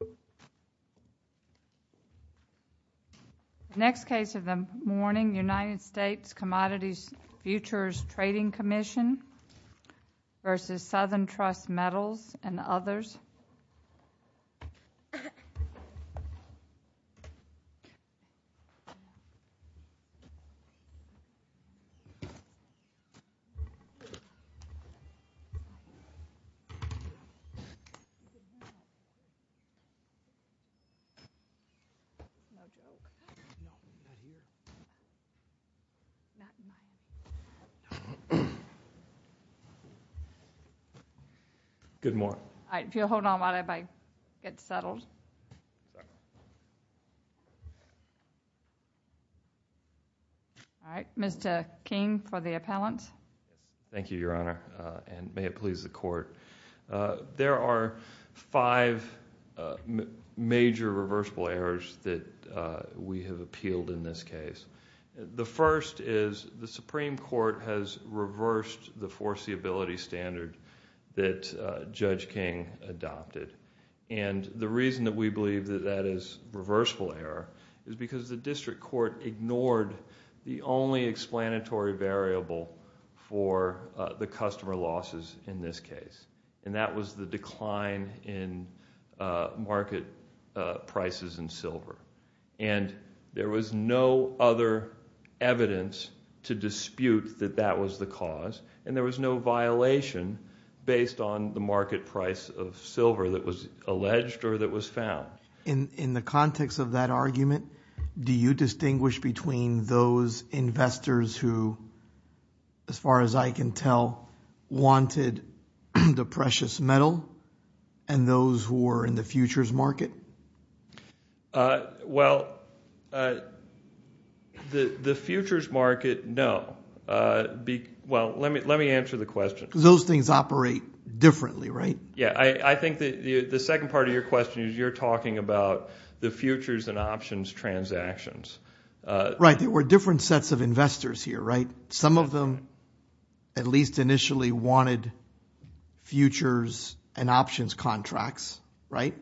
The next case of the morning, United States Commodity Futures Trading Commission v. Southern Good morning. Alright, if you'll hold on while I get settled. Alright, Mr. King for the appellant. Thank you, Your Honor, and may it please the Court. There are five major reversible errors that we have appealed in this case. The first is the Supreme Court has reversed the foreseeability standard that Judge King adopted. The reason that we believe that that is reversible error is because the district court ignored the only explanatory variable for the customer losses in this case, and that was the decline in market prices in silver. And there was no other evidence to dispute that that was the cause, and there was no violation based on the market price of silver that was alleged or that was found. In the context of that argument, do you distinguish between those investors who, as far as I can tell, wanted the precious metal and those who were in the futures market? Well, the futures market, no. Well, let me answer the question. Because those things operate differently, right? Yeah, I think that the second part of your question is you're talking about the futures and options transactions. Right, there were different sets of investors here, right? Some of them, at least initially, wanted futures and options contracts, right?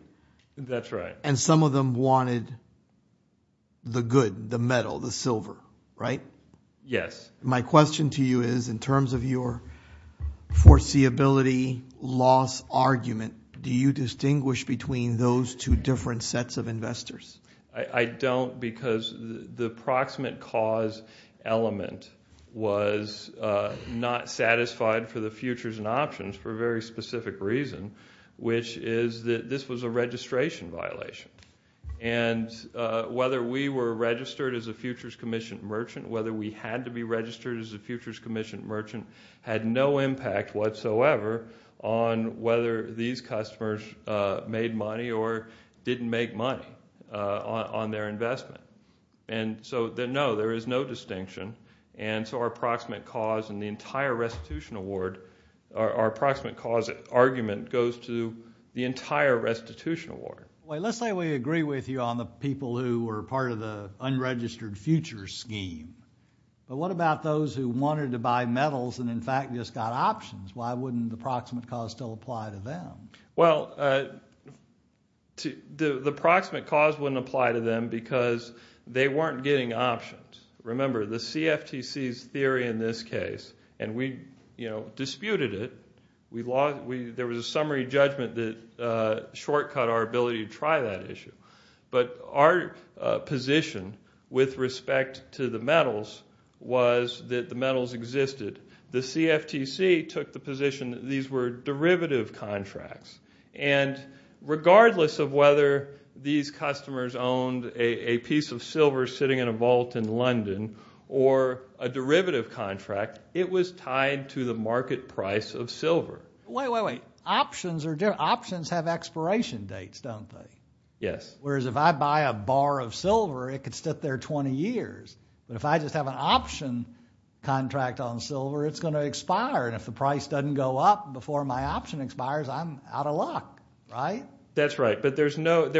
That's right. And some of them wanted the good, the metal, the silver, right? Yes. My question to you is, in terms of your foreseeability loss argument, do you distinguish between those two different sets of investors? I don't, because the proximate cause element was not satisfied for the futures and options for a very specific reason, which is that this was a registration violation. And whether we were registered as a Futures Commission merchant, whether we had to be registered as a Futures Commission merchant, had no impact whatsoever on whether these customers made money or didn't make money on their investment. And so, no, there is no distinction. And so our approximate cause in the entire restitution award, our approximate cause argument goes to the entire restitution award. Well, let's say we agree with you on the people who were part of the unregistered futures scheme. But what about those who wanted to buy metals and, in fact, just got options Why wouldn't the proximate cause still apply to them? Well, the proximate cause wouldn't apply to them because they weren't getting options. Remember, the CFTC's theory in this case, and we disputed it, there was a summary judgment that shortcut our ability to try that issue. But our position with respect to the metals was that the metals existed. The CFTC took the position that these were derivative contracts. And regardless of whether these customers owned a piece of silver sitting in a vault in London or a derivative contract, it was tied to the market price of silver. Wait, wait, wait. Options are different. Options have expiration dates, don't they? Yes. Whereas if I buy a bar of silver, it could sit there 20 years. But if I just have an option contract on silver, it's going to expire. And if the price doesn't go up before my option expires, I'm out of luck, right? That's right. But there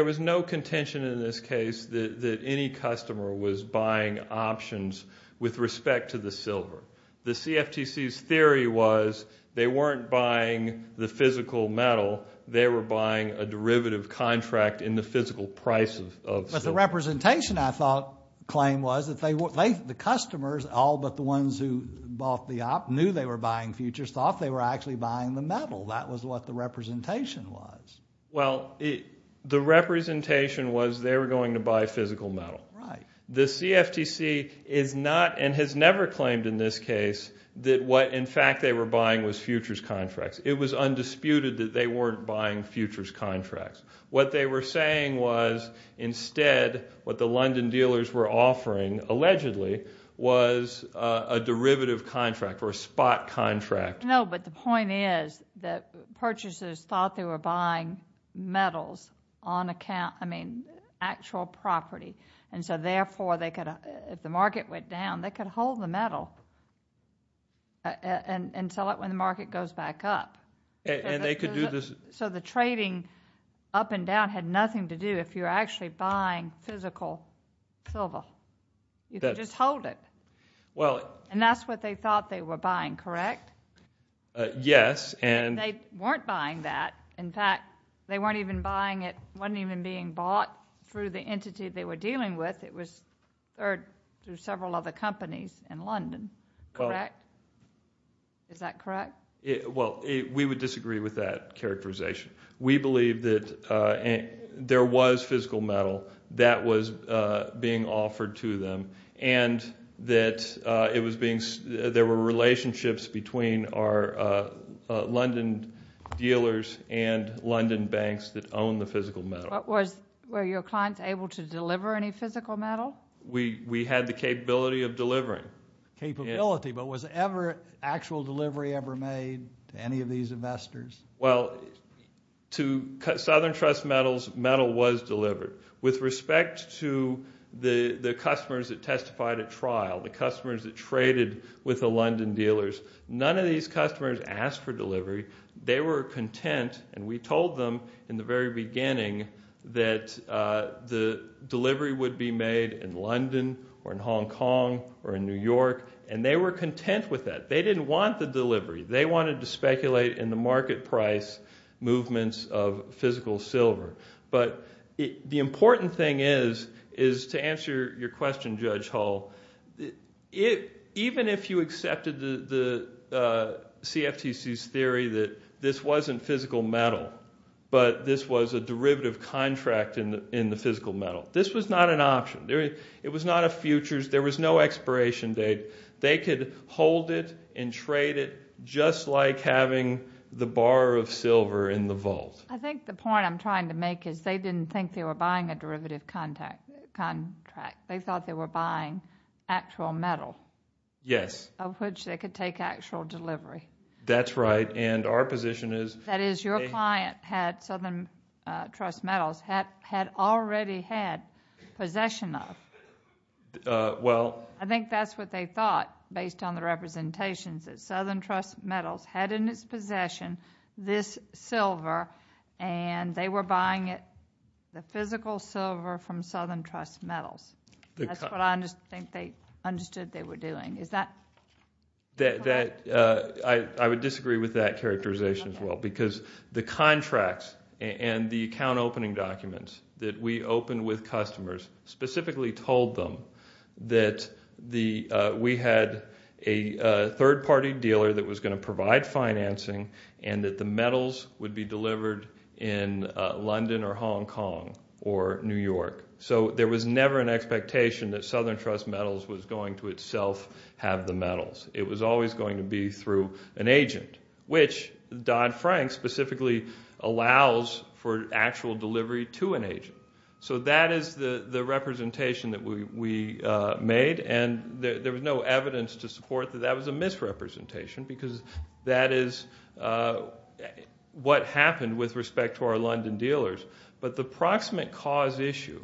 was no contention in this case that any customer was buying options with respect to the silver. The CFTC's theory was they weren't buying the physical metal. They were buying a derivative contract in the physical price of silver. But the representation, I thought, claim was that the customers, all but the ones who bought the op knew they were buying futures, thought they were actually buying the metal. That was what the representation was. Well, the representation was they were going to buy physical metal. The CFTC is not and has never claimed in this case that what, in fact, they were buying was futures contracts. It was undisputed that they weren't buying futures contracts. What they were saying was, instead, what the London dealers were offering, allegedly, was a derivative contract or a spot contract. No, but the point is that purchasers thought they were buying metals on account, I mean, actual property. And so, therefore, if the market went down, they could hold the metal and sell it when the market goes back up. And they could do this. So the trading up and down had nothing to do if you're actually buying physical silver. You could just hold it. And that's what they thought they were buying, correct? Yes. And they weren't buying that. In fact, they weren't even buying it, wasn't even being bought through the entity they were dealing with. It was through several other companies in London, correct? Is that correct? Well, we would disagree with that characterization. We believe that there was physical metal that was being offered to them. And that there were relationships between our London dealers and London banks that owned the physical metal. Were your clients able to deliver any physical metal? We had the capability of delivering. Capability. But was actual delivery ever made to any of these investors? Well, to Southern Trust Metals, metal was delivered. With respect to the customers that testified at trial, the customers that traded with the London dealers, none of these customers asked for delivery. They were content. And we told them in the very beginning that the delivery would be made in London or in Hong Kong or in New York. And they were content with that. They didn't want the delivery. They wanted to speculate in the market price movements of physical silver. But the important thing is to answer your question, Judge Hull, even if you accepted the CFTC's theory that this wasn't physical metal, but this was a derivative contract in the physical metal, this was not an option. It was not a futures. They could hold it and trade it just like having the bar of silver in the vault. I think the point I'm trying to make is they didn't think they were buying a derivative contract. They thought they were buying actual metal. Yes. Of which they could take actual delivery. That's right. And our position is- That is, your client, Southern Trust Metals, had already had possession of. Well- I think that's what they thought, based on the representations, that Southern Trust Metals had in its possession this silver and they were buying it, the physical silver from Southern Trust Metals. That's what I think they understood they were doing. Is that- That, I would disagree with that characterization as well. Because the contracts and the account opening documents that we opened with them, that we had a third party dealer that was going to provide financing and that the metals would be delivered in London or Hong Kong or New York. So there was never an expectation that Southern Trust Metals was going to itself have the metals. It was always going to be through an agent, which Dodd-Frank specifically allows for actual delivery to an agent. So that is the representation that we made. And there was no evidence to support that that was a misrepresentation. Because that is what happened with respect to our London dealers. But the proximate cause issue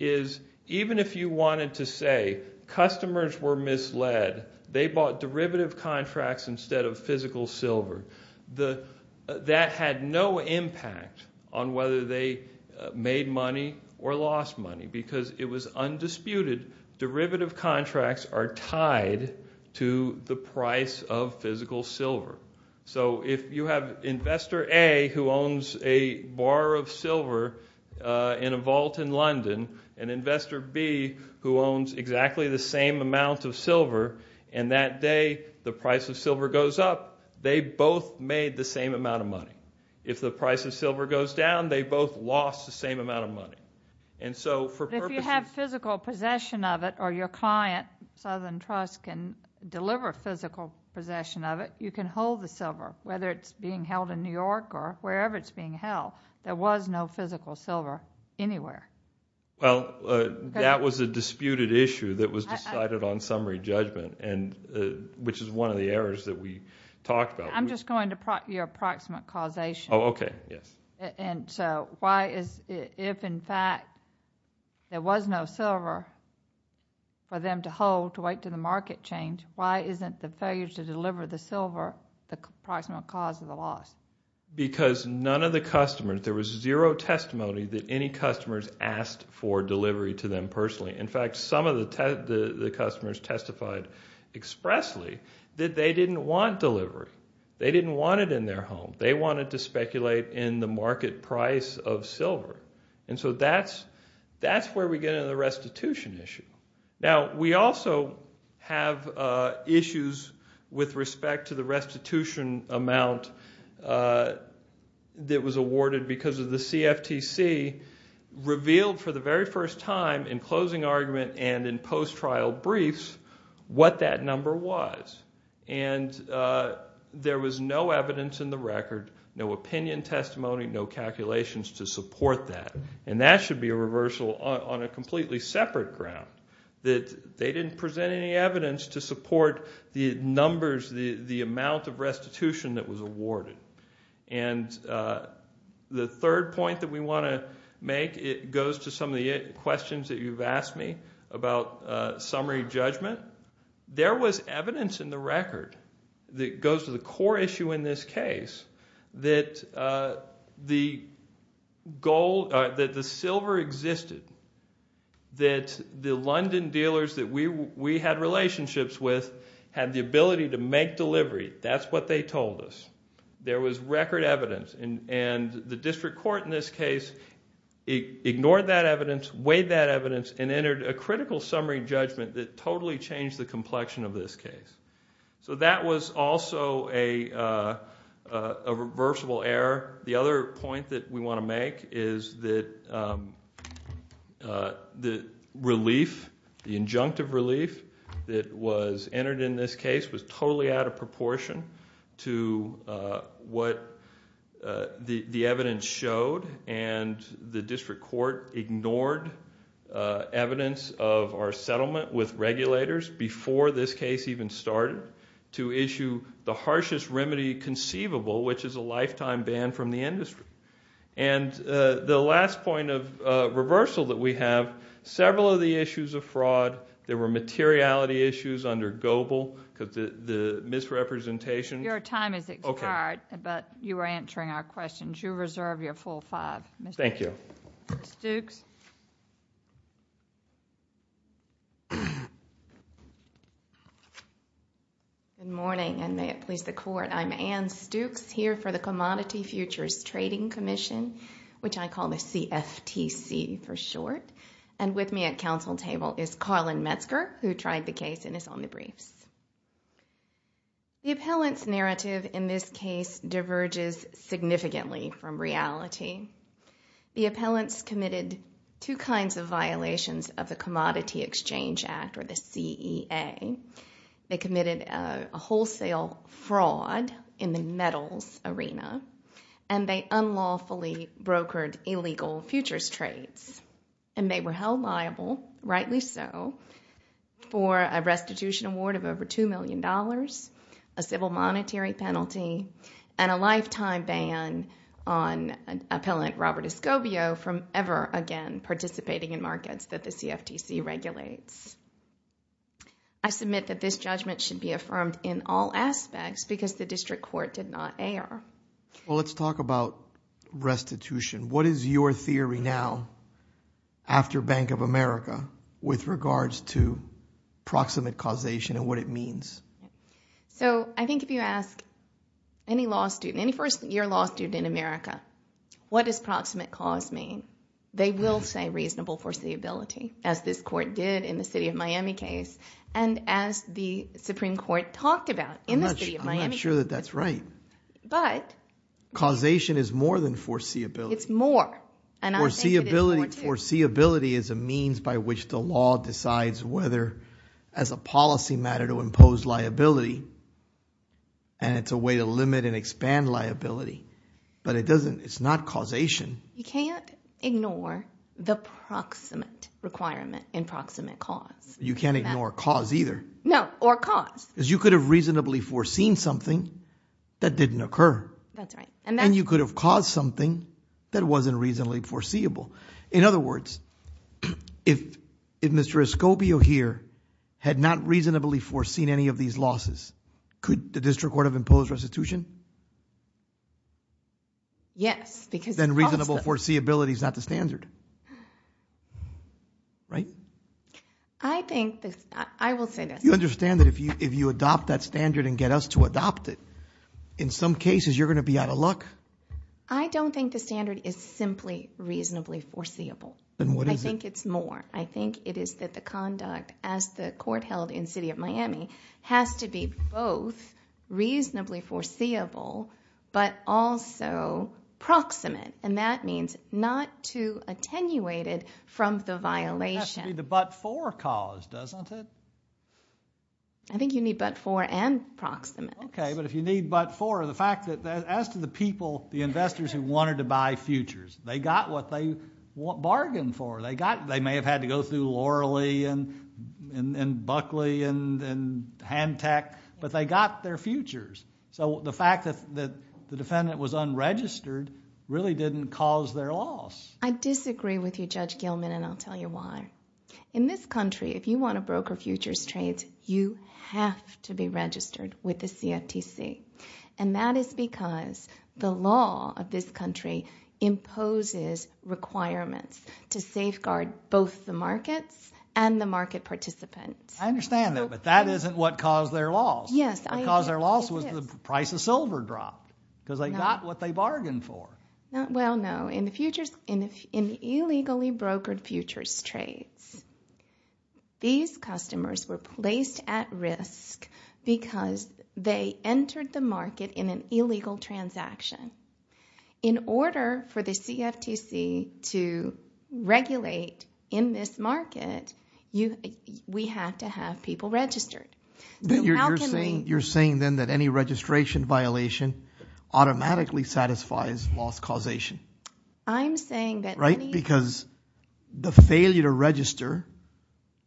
is, even if you wanted to say, customers were misled, they bought derivative contracts instead of physical silver, that had no money or lost money because it was undisputed, derivative contracts are tied to the price of physical silver. So if you have investor A who owns a bar of silver in a vault in London, and investor B who owns exactly the same amount of silver, and that day the price of silver goes up, they both made the same amount of money. If the price of silver goes down, they both lost the same amount of money. And so for purposes- If you have physical possession of it, or your client, Southern Trust, can deliver physical possession of it, you can hold the silver, whether it's being held in New York or wherever it's being held. There was no physical silver anywhere. Well, that was a disputed issue that was decided on summary judgment, which is one of the errors that we talked about. I'm just going to your approximate causation. Oh, okay. Yes. And so why is, if in fact there was no silver for them to hold to wait to the market change, why isn't the failure to deliver the silver the approximate cause of the loss? Because none of the customers, there was zero testimony that any customers asked for delivery to them personally. In fact, some of the customers testified expressly that they didn't want delivery. They didn't want it in their home. They wanted to speculate in the market price of silver. And so that's where we get into the restitution issue. Now, we also have issues with respect to the restitution amount that was awarded because of the CFTC revealed for the very first time in closing argument and in post-trial briefs what that number was. And there was no evidence in the record, no opinion testimony, no calculations to support that. And that should be a reversal on a completely separate ground, that they didn't present any evidence to support the numbers, the amount of restitution that was awarded. And the third point that we want to make, it goes to some of the questions that you've asked me about summary judgment. There was evidence in the record that goes to the core issue in this case that the silver existed, that the London dealers that we had relationships with had the ability to make delivery. That's what they told us. There was record evidence. And the district court in this case ignored that evidence, weighed that in, and changed the complexion of this case. So that was also a reversible error. The other point that we want to make is that the relief, the injunctive relief that was entered in this case was totally out of proportion to what the evidence showed and the district court ignored evidence of our settlement with regulators before this case even started to issue the harshest remedy conceivable, which is a lifetime ban from the industry. And the last point of reversal that we have, several of the issues of fraud, there were materiality issues under Goebel, the misrepresentation... Your time is expired, but you were answering our questions. You reserve your full five, Mr. Stukes. Thank you. Ann Stukes. Good morning, and may it please the Court. I'm Ann Stukes here for the Commodity Futures Trading Commission, which I call the CFTC for short. And with me at council table is Karlyn Metzger, who tried the case and is on the briefs. The appellant's narrative in this case diverges significantly from reality. The appellants committed two kinds of violations of the Commodity Exchange Act or the CEA. They committed a wholesale fraud in the metals arena, and they unlawfully brokered illegal futures trades. And they were held liable, rightly so, for a restitution award of over $2 million, a civil monetary penalty, and a lifetime ban on appellant Robert Escobio from ever again participating in markets that the CFTC regulates. I submit that this judgment should be affirmed in all aspects because the district court did not err. Well, let's talk about restitution. What is your theory now, after Bank of America, with regards to proximate causation and what it means? So I think if you ask any law student, any first-year law student in America, what does proximate cause mean? They will say reasonable foreseeability, as this court did in the City of Miami case, and as the Supreme Court talked about in the City of Miami case. I'm not sure that that's right. But... Causation is more than foreseeability. It's more. And I think it is more, too. Foreseeability is a means by which the law decides whether, as a policy matter, to impose liability, and it's a way to limit and expand liability. But it doesn't... it's not causation. You can't ignore the proximate requirement in proximate cause. You can't ignore cause, either. No. Or cause. Because you could have reasonably foreseen something that didn't occur. That's right. And you could have caused something that wasn't reasonably foreseeable. In other words, if Mr. Escobio, here, had not reasonably foreseen any of these losses, could the district court have imposed restitution? Yes, because... Then reasonable foreseeability is not the standard, right? I think... I will say this. You understand that if you adopt that standard and get us to adopt it, in some cases, you're going to be out of luck? I don't think the standard is simply reasonably foreseeable. Then what is it? I think it's more. I think it is that the conduct, as the court held in the City of Miami, has to be both reasonably foreseeable, but also proximate. And that means not to attenuate it from the violation. It has to be the but-for cause, doesn't it? I think you need but-for and proximate. Okay. But if you need but-for, the fact that, as to the people, the investors who wanted to buy futures, they got what they bargained for. They may have had to go through Loralee and Buckley and Handtech, but they got their futures. So the fact that the defendant was unregistered really didn't cause their loss. I disagree with you, Judge Gilman, and I'll tell you why. In this country, if you want to broker futures trades, you have to be registered with the CFTC, and that is because the law of this country imposes requirements to safeguard both the markets and the market participants. I understand that, but that isn't what caused their loss. Yes, I agree. What caused their loss was the price of silver dropped, because they got what they bargained for. Well, no. In the illegally brokered futures trades, these customers were placed at risk because they entered the market in an illegal transaction. In order for the CFTC to regulate in this market, we have to have people registered. You're saying then that any registration violation automatically satisfies loss causation? I'm saying that- Right? Because the failure to register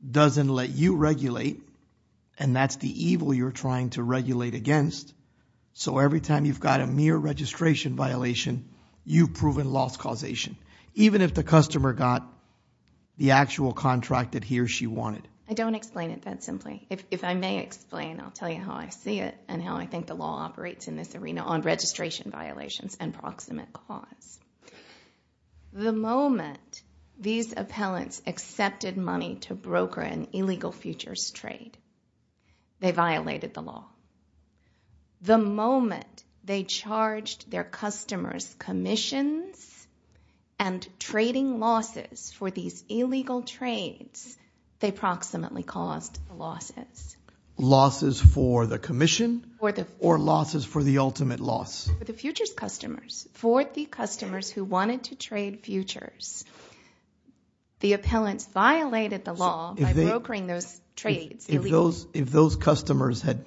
doesn't let you regulate, and that's the evil you're trying to regulate against. So every time you've got a mere registration violation, you've proven loss causation, even if the customer got the actual contract that he or she wanted. I don't explain it that simply. If I may explain, I'll tell you how I see it and how I think the law operates in this arena on registration violations and proximate cause. The moment these appellants accepted money to broker an illegal futures trade, they violated the law. The moment they charged their customers commissions and trading losses for these illegal trades, they proximately caused the losses. Losses for the commission or losses for the ultimate loss? For the futures customers. For the customers who wanted to trade futures, the appellants violated the law by brokering those trades illegally. If those customers had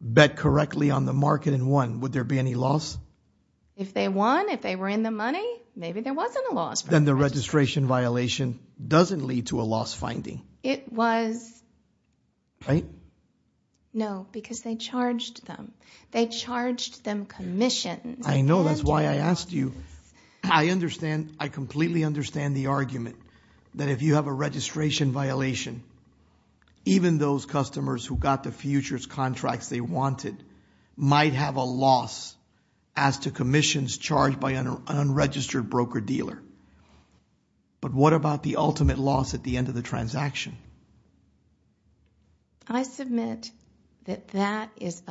bet correctly on the market and won, would there be any loss? If they won, if they were in the money, maybe there wasn't a loss. Then the registration violation doesn't lead to a loss finding. It was. Right? No, because they charged them. They charged them commissions. I know, that's why I asked you. I understand, I completely understand the argument that if you have a registration violation, even those customers who got the futures contracts they wanted might have a loss as to commissions charged by an unregistered broker dealer. But what about the ultimate loss at the end of the transaction? I submit that that is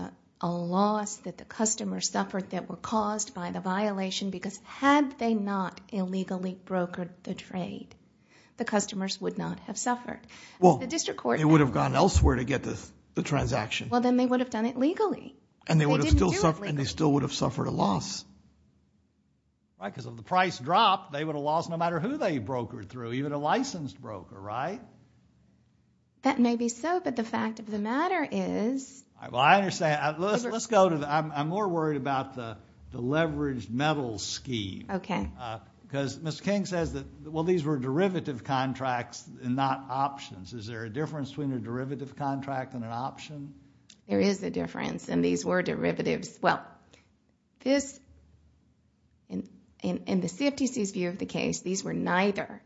a loss that the customers suffered that were caused by the violation because had they not illegally brokered the trade, the customers would not have suffered. Well, they would have gone elsewhere to get the transaction. Well then they would have done it legally. They didn't do it legally. And they still would have suffered a loss. Right, because if the price dropped, they would have lost no matter who they brokered through, even a licensed broker, right? That may be so, but the fact of the matter is. Well, I understand. Let's go to the, I'm more worried about the leveraged metal scheme. Okay. Because Ms. King says that, well, these were derivative contracts and not options. Is there a difference between a derivative contract and an option? There is a difference, and these were derivatives. Well, this, in the CFTC's view of the case, these were neither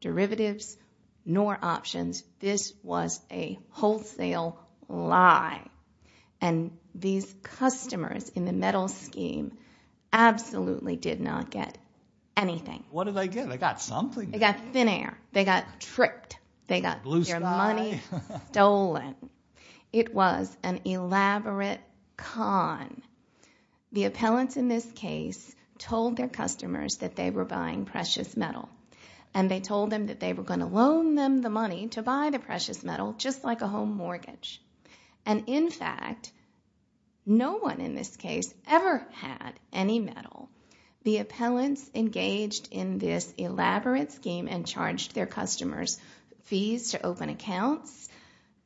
derivatives nor options. This was a wholesale lie. And these customers in the metal scheme absolutely did not get anything. What did they get? They got something. They got thin air. They got tripped. They got their money stolen. It was an elaborate con. The appellants in this case told their customers that they were buying precious metal. And they told them that they were going to loan them the money to buy the precious metal, just like a home mortgage. And in fact, no one in this case ever had any metal. The appellants engaged in this elaborate scheme and charged their customers fees to open accounts.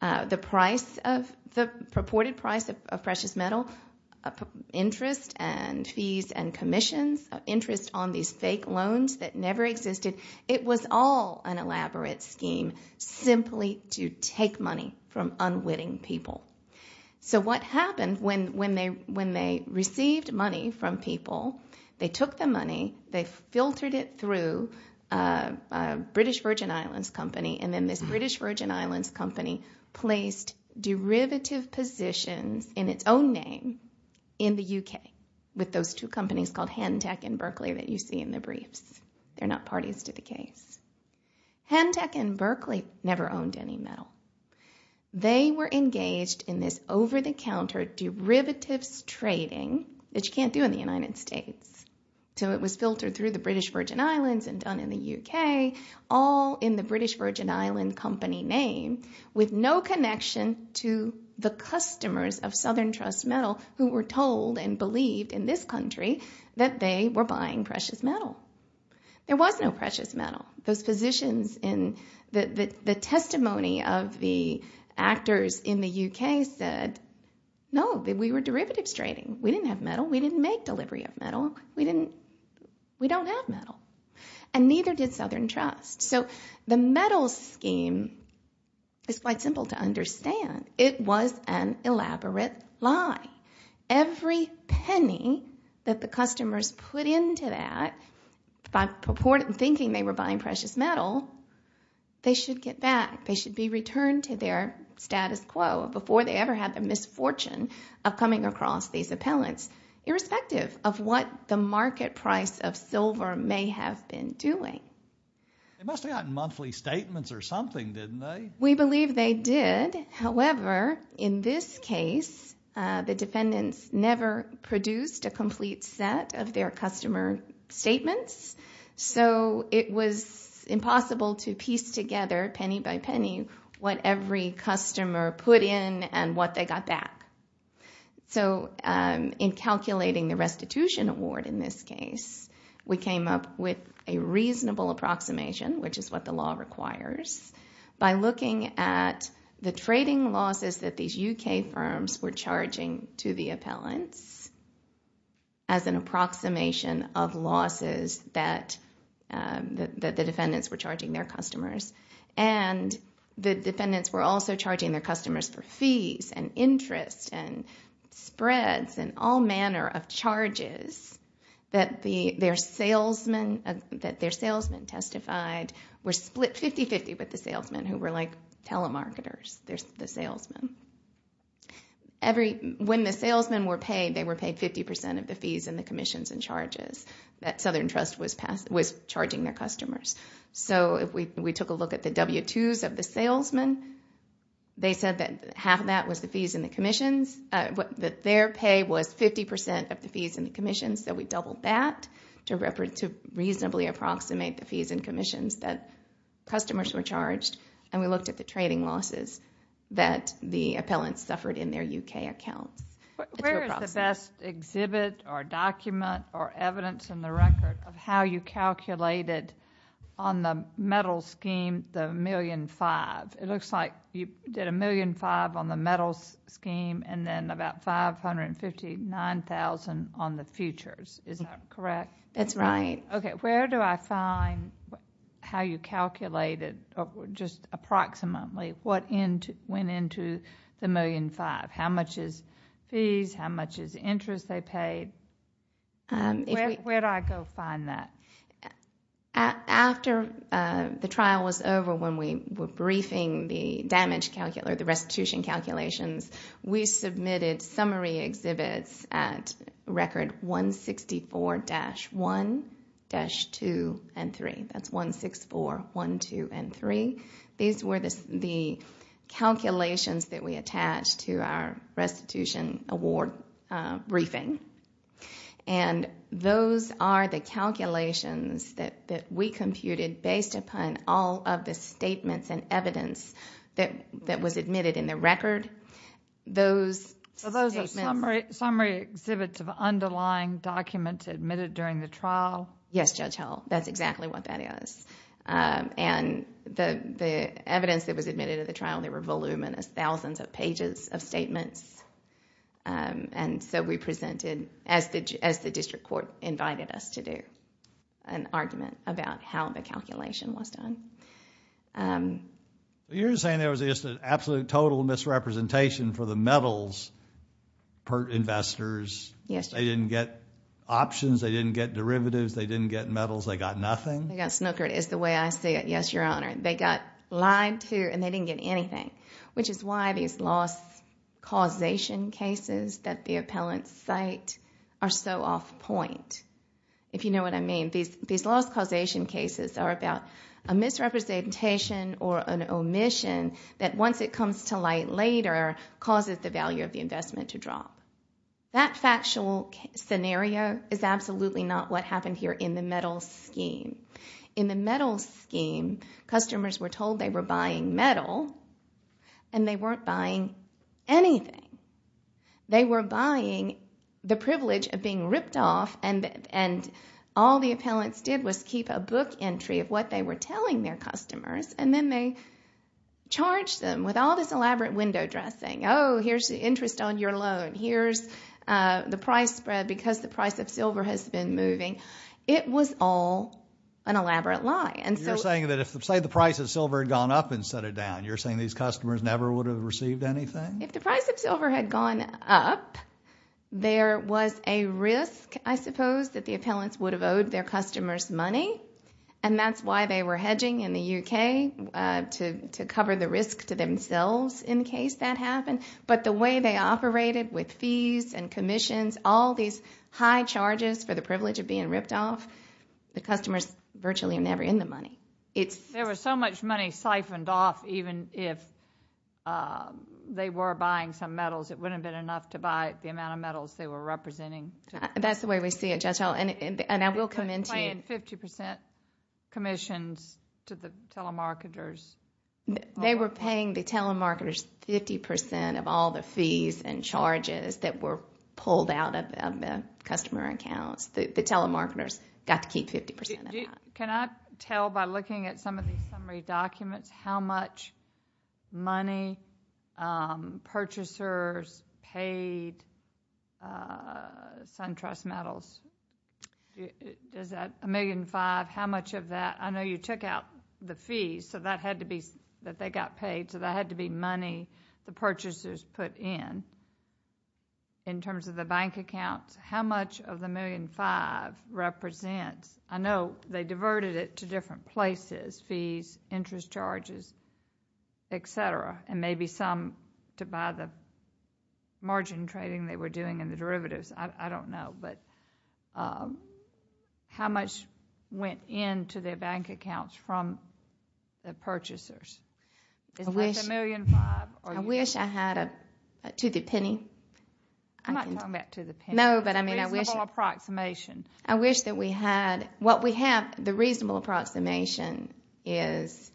The price of, the purported price of precious metal, interest and fees and commissions, interest on these fake loans that never existed, it was all an elaborate scheme simply to take money from unwitting people. So what happened when they received money from people, they took the money, they filtered it through a British Virgin Islands company, and then this British Virgin Islands company placed derivative positions in its own name in the UK with those two companies called Hentec and Berkeley that you see in the briefs. They're not parties to the case. Hentec and Berkeley never owned any metal. They were engaged in this over-the-counter derivatives trading that you can't do in the United States. So it was filtered through the British Virgin Islands and done in the UK, all in the British Virgin Island company name with no connection to the customers of Southern Trust Metal who were told and believed in this country that they were buying precious metal. There was no precious metal. Those positions in the testimony of the actors in the UK said, no, that we were derivatives trading. We didn't have metal. We didn't make delivery of metal. We don't have metal. And neither did Southern Trust. So the metal scheme is quite simple to understand. It was an elaborate lie. Every penny that the customers put into that by purported thinking they were buying precious metal, they should get back. They should be returned to their status quo before they ever had the misfortune of coming across these appellants, irrespective of what the market price of silver may have been doing. They must have gotten monthly statements or something, didn't they? We believe they did. However, in this case, the defendants never produced a complete set of their customer statements. So it was impossible to piece together, penny by penny, what every customer put in and what they got back. So in calculating the restitution award in this case, we came up with a reasonable approximation, which is what the law requires, by looking at the trading losses that these UK firms were charging to the appellants as an approximation of losses that the defendants were charging their customers. And the defendants were also charging their customers for fees and interest and spreads and all manner of charges that their salesmen testified were split 50-50 with the salesmen, who were like telemarketers, the salesmen. When the salesmen were paid, they were paid 50% of the fees and the commissions and charges that Southern Trust was charging their customers. So if we took a look at the W-2s of the salesmen, they said that half of that was the fees and the commissions, that their pay was 50% of the fees and the commissions, so we doubled that to reasonably approximate the fees and commissions that customers were charged, and we looked at the trading losses that the appellants suffered in their UK accounts. Where is the best exhibit or document or evidence in the record of how you calculated on the metal scheme the $1.5 million? It looks like you did $1.5 million on the metal scheme and then about $559,000 on the futures. Is that correct? That's right. Okay. Where do I find how you calculated, just approximately, what went into the $1.5 million? How much is fees? How much is interest they paid? Where do I go find that? After the trial was over, when we were briefing the damage calculator, the restitution calculations, we submitted summary exhibits at record 164-1, 164-2, 164-1, 164-2, and 164-3. These were the calculations that we attached to our restitution award briefing. Those are the calculations that we computed based upon all of the statements and evidence that was admitted in the record. Those statements... Those are summary exhibits of underlying documents admitted during the trial? Yes, Judge Howell. That's exactly what that is. The evidence that was admitted at the trial, there were voluminous, thousands of pages of statements. We presented, as the district court invited us to do, an argument about how the calculation was done. You're saying there was just an absolute, total misrepresentation for the metals per investors? Yes, Judge. They didn't get options? They didn't get derivatives? They didn't get metals? They got nothing? They got snookered is the way I see it, yes, Your Honor. They got lied to and they didn't get anything, which is why these loss causation cases that the appellants cite are so off point, if you know what I mean. These loss causation cases are about a misrepresentation or an omission that once it comes to light later causes the value of the investment to drop. That factual scenario is absolutely not what happened here in the metals scheme. In the metals scheme, customers were told they were buying metal and they weren't buying anything. They were buying the privilege of being ripped off and all the appellants did was keep a book entry of what they were telling their customers and then they charged them with all this elaborate window dressing, oh, here's the interest on your loan, here's the price spread because the price of silver has been moving. It was all an elaborate lie. You're saying that if, say, the price of silver had gone up and set it down, you're saying these customers never would have received anything? If the price of silver had gone up, there was a risk, I suppose, that the appellants would have owed their customers money and that's why they were hedging in the UK to cover the risk to themselves in case that happened. But the way they operated with fees and commissions, all these high charges for the privilege of being ripped off, the customer's virtually never in the money. There was so much money siphoned off even if they were buying some metals, it wouldn't have been enough to buy the amount of metals they were representing. That's the way we see it, Judge Howell, and I will commend to you... They were paying the telemarketers 50% of all the fees and charges that were pulled out of the customer accounts. The telemarketers got to keep 50% of that. Can I tell by looking at some of these summary documents how much money purchasers paid SunTrust Metals? Is that $1.5 million? How much of that? I know you took out the fees that they got paid, so that had to be money the purchasers put in. In terms of the bank accounts, how much of the $1.5 million represents... I know they diverted it to different places, fees, interest charges, etc., and maybe some to buy the margin trading they were doing in the derivatives. I don't know. How much went into their bank accounts from the purchasers? Is that $1.5 million? I wish I had a... to the penny. I'm not talking about to the penny. No, but I mean I wish... A reasonable approximation. I wish that we had... what we have, the reasonable approximation is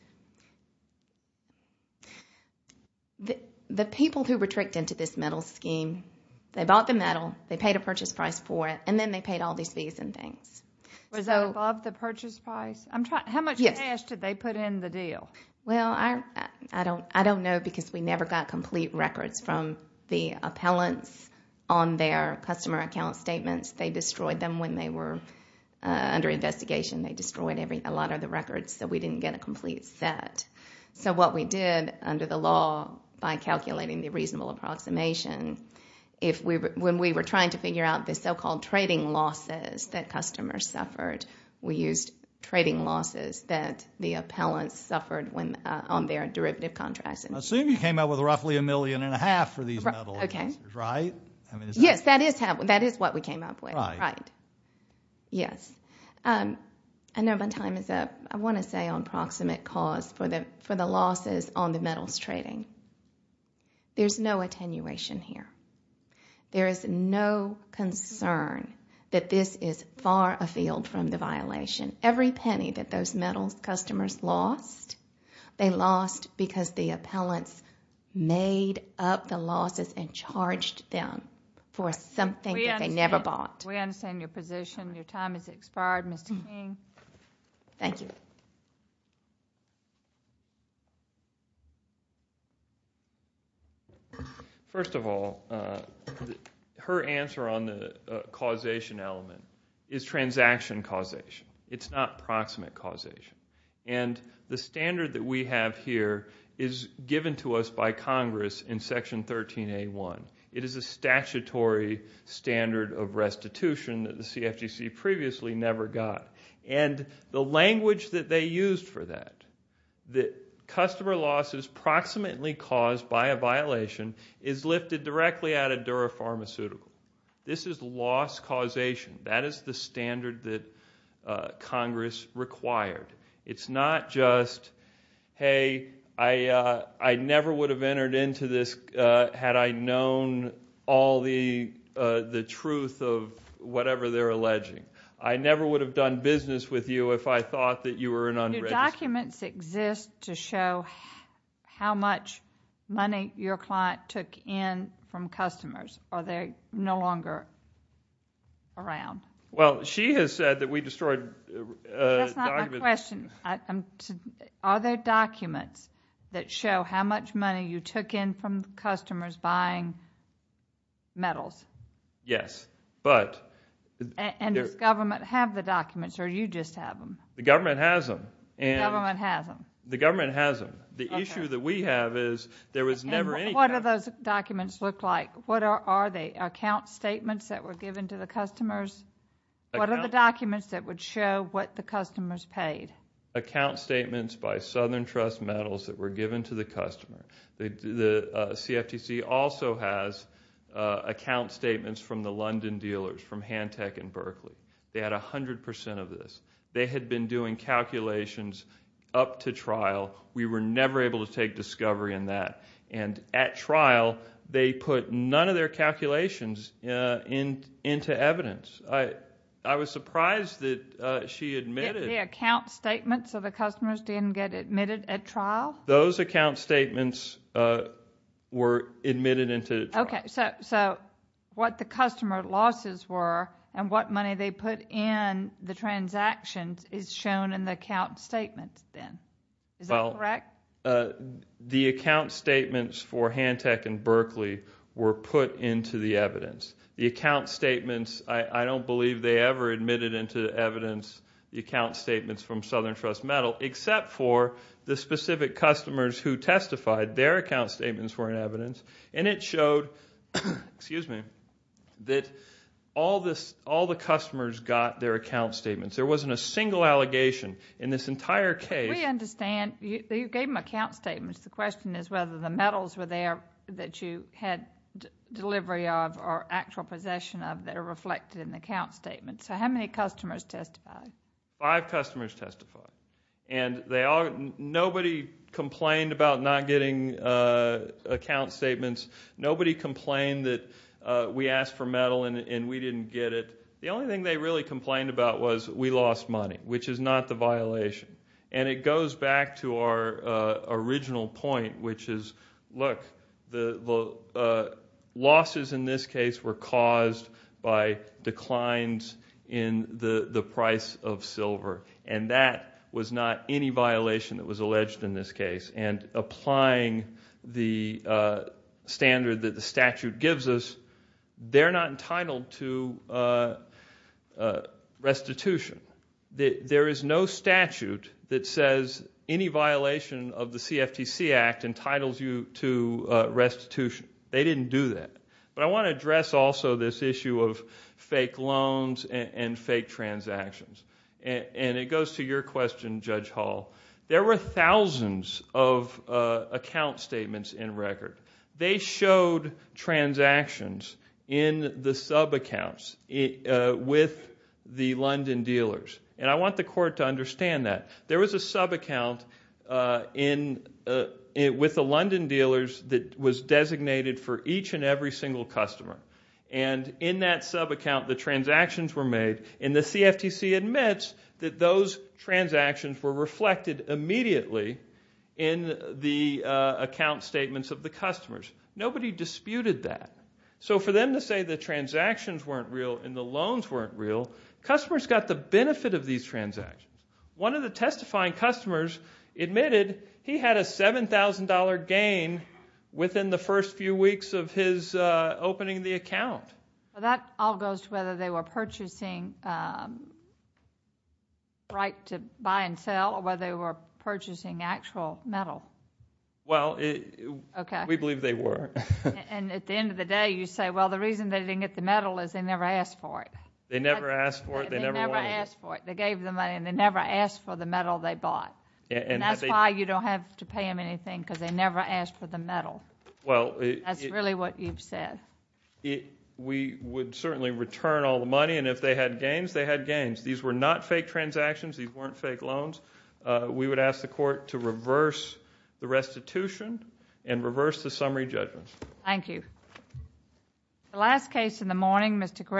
the people who tricked into this metal scheme, they bought the metal, they paid a purchase price for it, and then they paid all these fees and things. Was that above the purchase price? How much cash did they put in the deal? I don't know because we never got complete records from the appellants on their customer account statements. They destroyed them when they were under investigation. They destroyed a lot of the records, so we didn't get a complete set. What we did under the law by calculating the reasonable approximation, when we were trying to figure out the so-called trading losses that customers suffered, we used trading losses that the appellants suffered on their derivative contracts. Assume you came up with roughly a million and a half for these metal investors, right? Yes, that is what we came up with. Right. Yes. I know my time is up. I want to say on proximate cause for the losses on the metals trading, there is no attenuation here. There is no concern that this is far afield from the violation. Every penny that those metals customers lost, they lost because the appellants made up the losses and charged them for something that they never bought. We understand your position. Your time has expired. Mr. King? Thank you. First of all, her answer on the causation element is transaction causation. It's not proximate causation. The standard that we have here is given to us by Congress in Section 13A1. It is a statutory standard of restitution that the CFTC previously never got. The language that they used for that, that customer losses proximately caused by a violation is lifted directly out of Dura Pharmaceutical. This is loss causation. That is the standard that Congress required. It's not just, hey, I never would have entered into this had I known all the truth of whatever they're alleging. I never would have done business with you if I thought that you were an unregistered... Do documents exist to show how much money your client took in from customers, or they're no longer around? She has said that we destroyed... That's not my question. Are there documents that show how much money you took in from customers buying metals? Yes. But... Does government have the documents, or you just have them? The government has them. The government has them. The government has them. The issue that we have is there was never any... What do those documents look like? What are they, account statements that were given to the customers? What are the documents that would show what the customers paid? Account statements by Southern Trust Metals that were given to the customer. The CFTC also has account statements from the London dealers, from Handtech and Berkeley. They had 100% of this. They had been doing calculations up to trial. We were never able to take discovery in that. At trial, they put none of their calculations into evidence. I was surprised that she admitted... The account statements of the customers didn't get admitted at trial? Those account statements were admitted into trial. What the customer losses were, and what money they put in the transactions is shown in the account statements then. Is that correct? The account statements for Handtech and Berkeley were put into the evidence. The account statements, I don't believe they ever admitted into evidence the account statements from Southern Trust Metal, except for the specific customers who testified. Their account statements were in evidence, and it showed that all the customers got their account statements. There wasn't a single allegation in this entire case. We understand. You gave them account statements. The question is whether the metals were there that you had delivery of, or actual possession of, that are reflected in the account statements. How many customers testified? Five customers testified. Nobody complained about not getting account statements. Nobody complained that we asked for metal and we didn't get it. The only thing they really complained about was we lost money, which is not the violation. It goes back to our original point, which is, look, the losses in this case were caused by declines in the price of silver, and that was not any violation that was alleged in this case. Applying the standard that the statute gives us, they're not entitled to restitution. There is no statute that says any violation of the CFTC Act entitles you to restitution. They didn't do that. But I want to address also this issue of fake loans and fake transactions. It goes to your question, Judge Hall. There were thousands of account statements in record. They showed transactions in the subaccounts with the London dealers. I want the court to understand that. There was a subaccount with the London dealers that was designated for each and every single customer. In that subaccount, the transactions were made, and the CFTC admits that those transactions were reflected immediately in the account statements of the customers. Nobody disputed that. So for them to say the transactions weren't real and the loans weren't real, customers got the benefit of these transactions. One of the testifying customers admitted he had a $7,000 gain within the first few weeks of his opening the account. That all goes to whether they were purchasing right to buy and sell or whether they were purchasing actual metal. We believe they were. At the end of the day, you say, well, the reason they didn't get the metal is they never asked for it. They never asked for it. They never wanted it. They never asked for it. They gave them money, and they never asked for the metal they bought. That's really what you've said. We would certainly return all the money, and if they had gains, they had gains. These were not fake transactions. These weren't fake loans. We would ask the court to reverse the restitution and reverse the summary judgment. Thank you. The last case in the morning, Mr. Gray.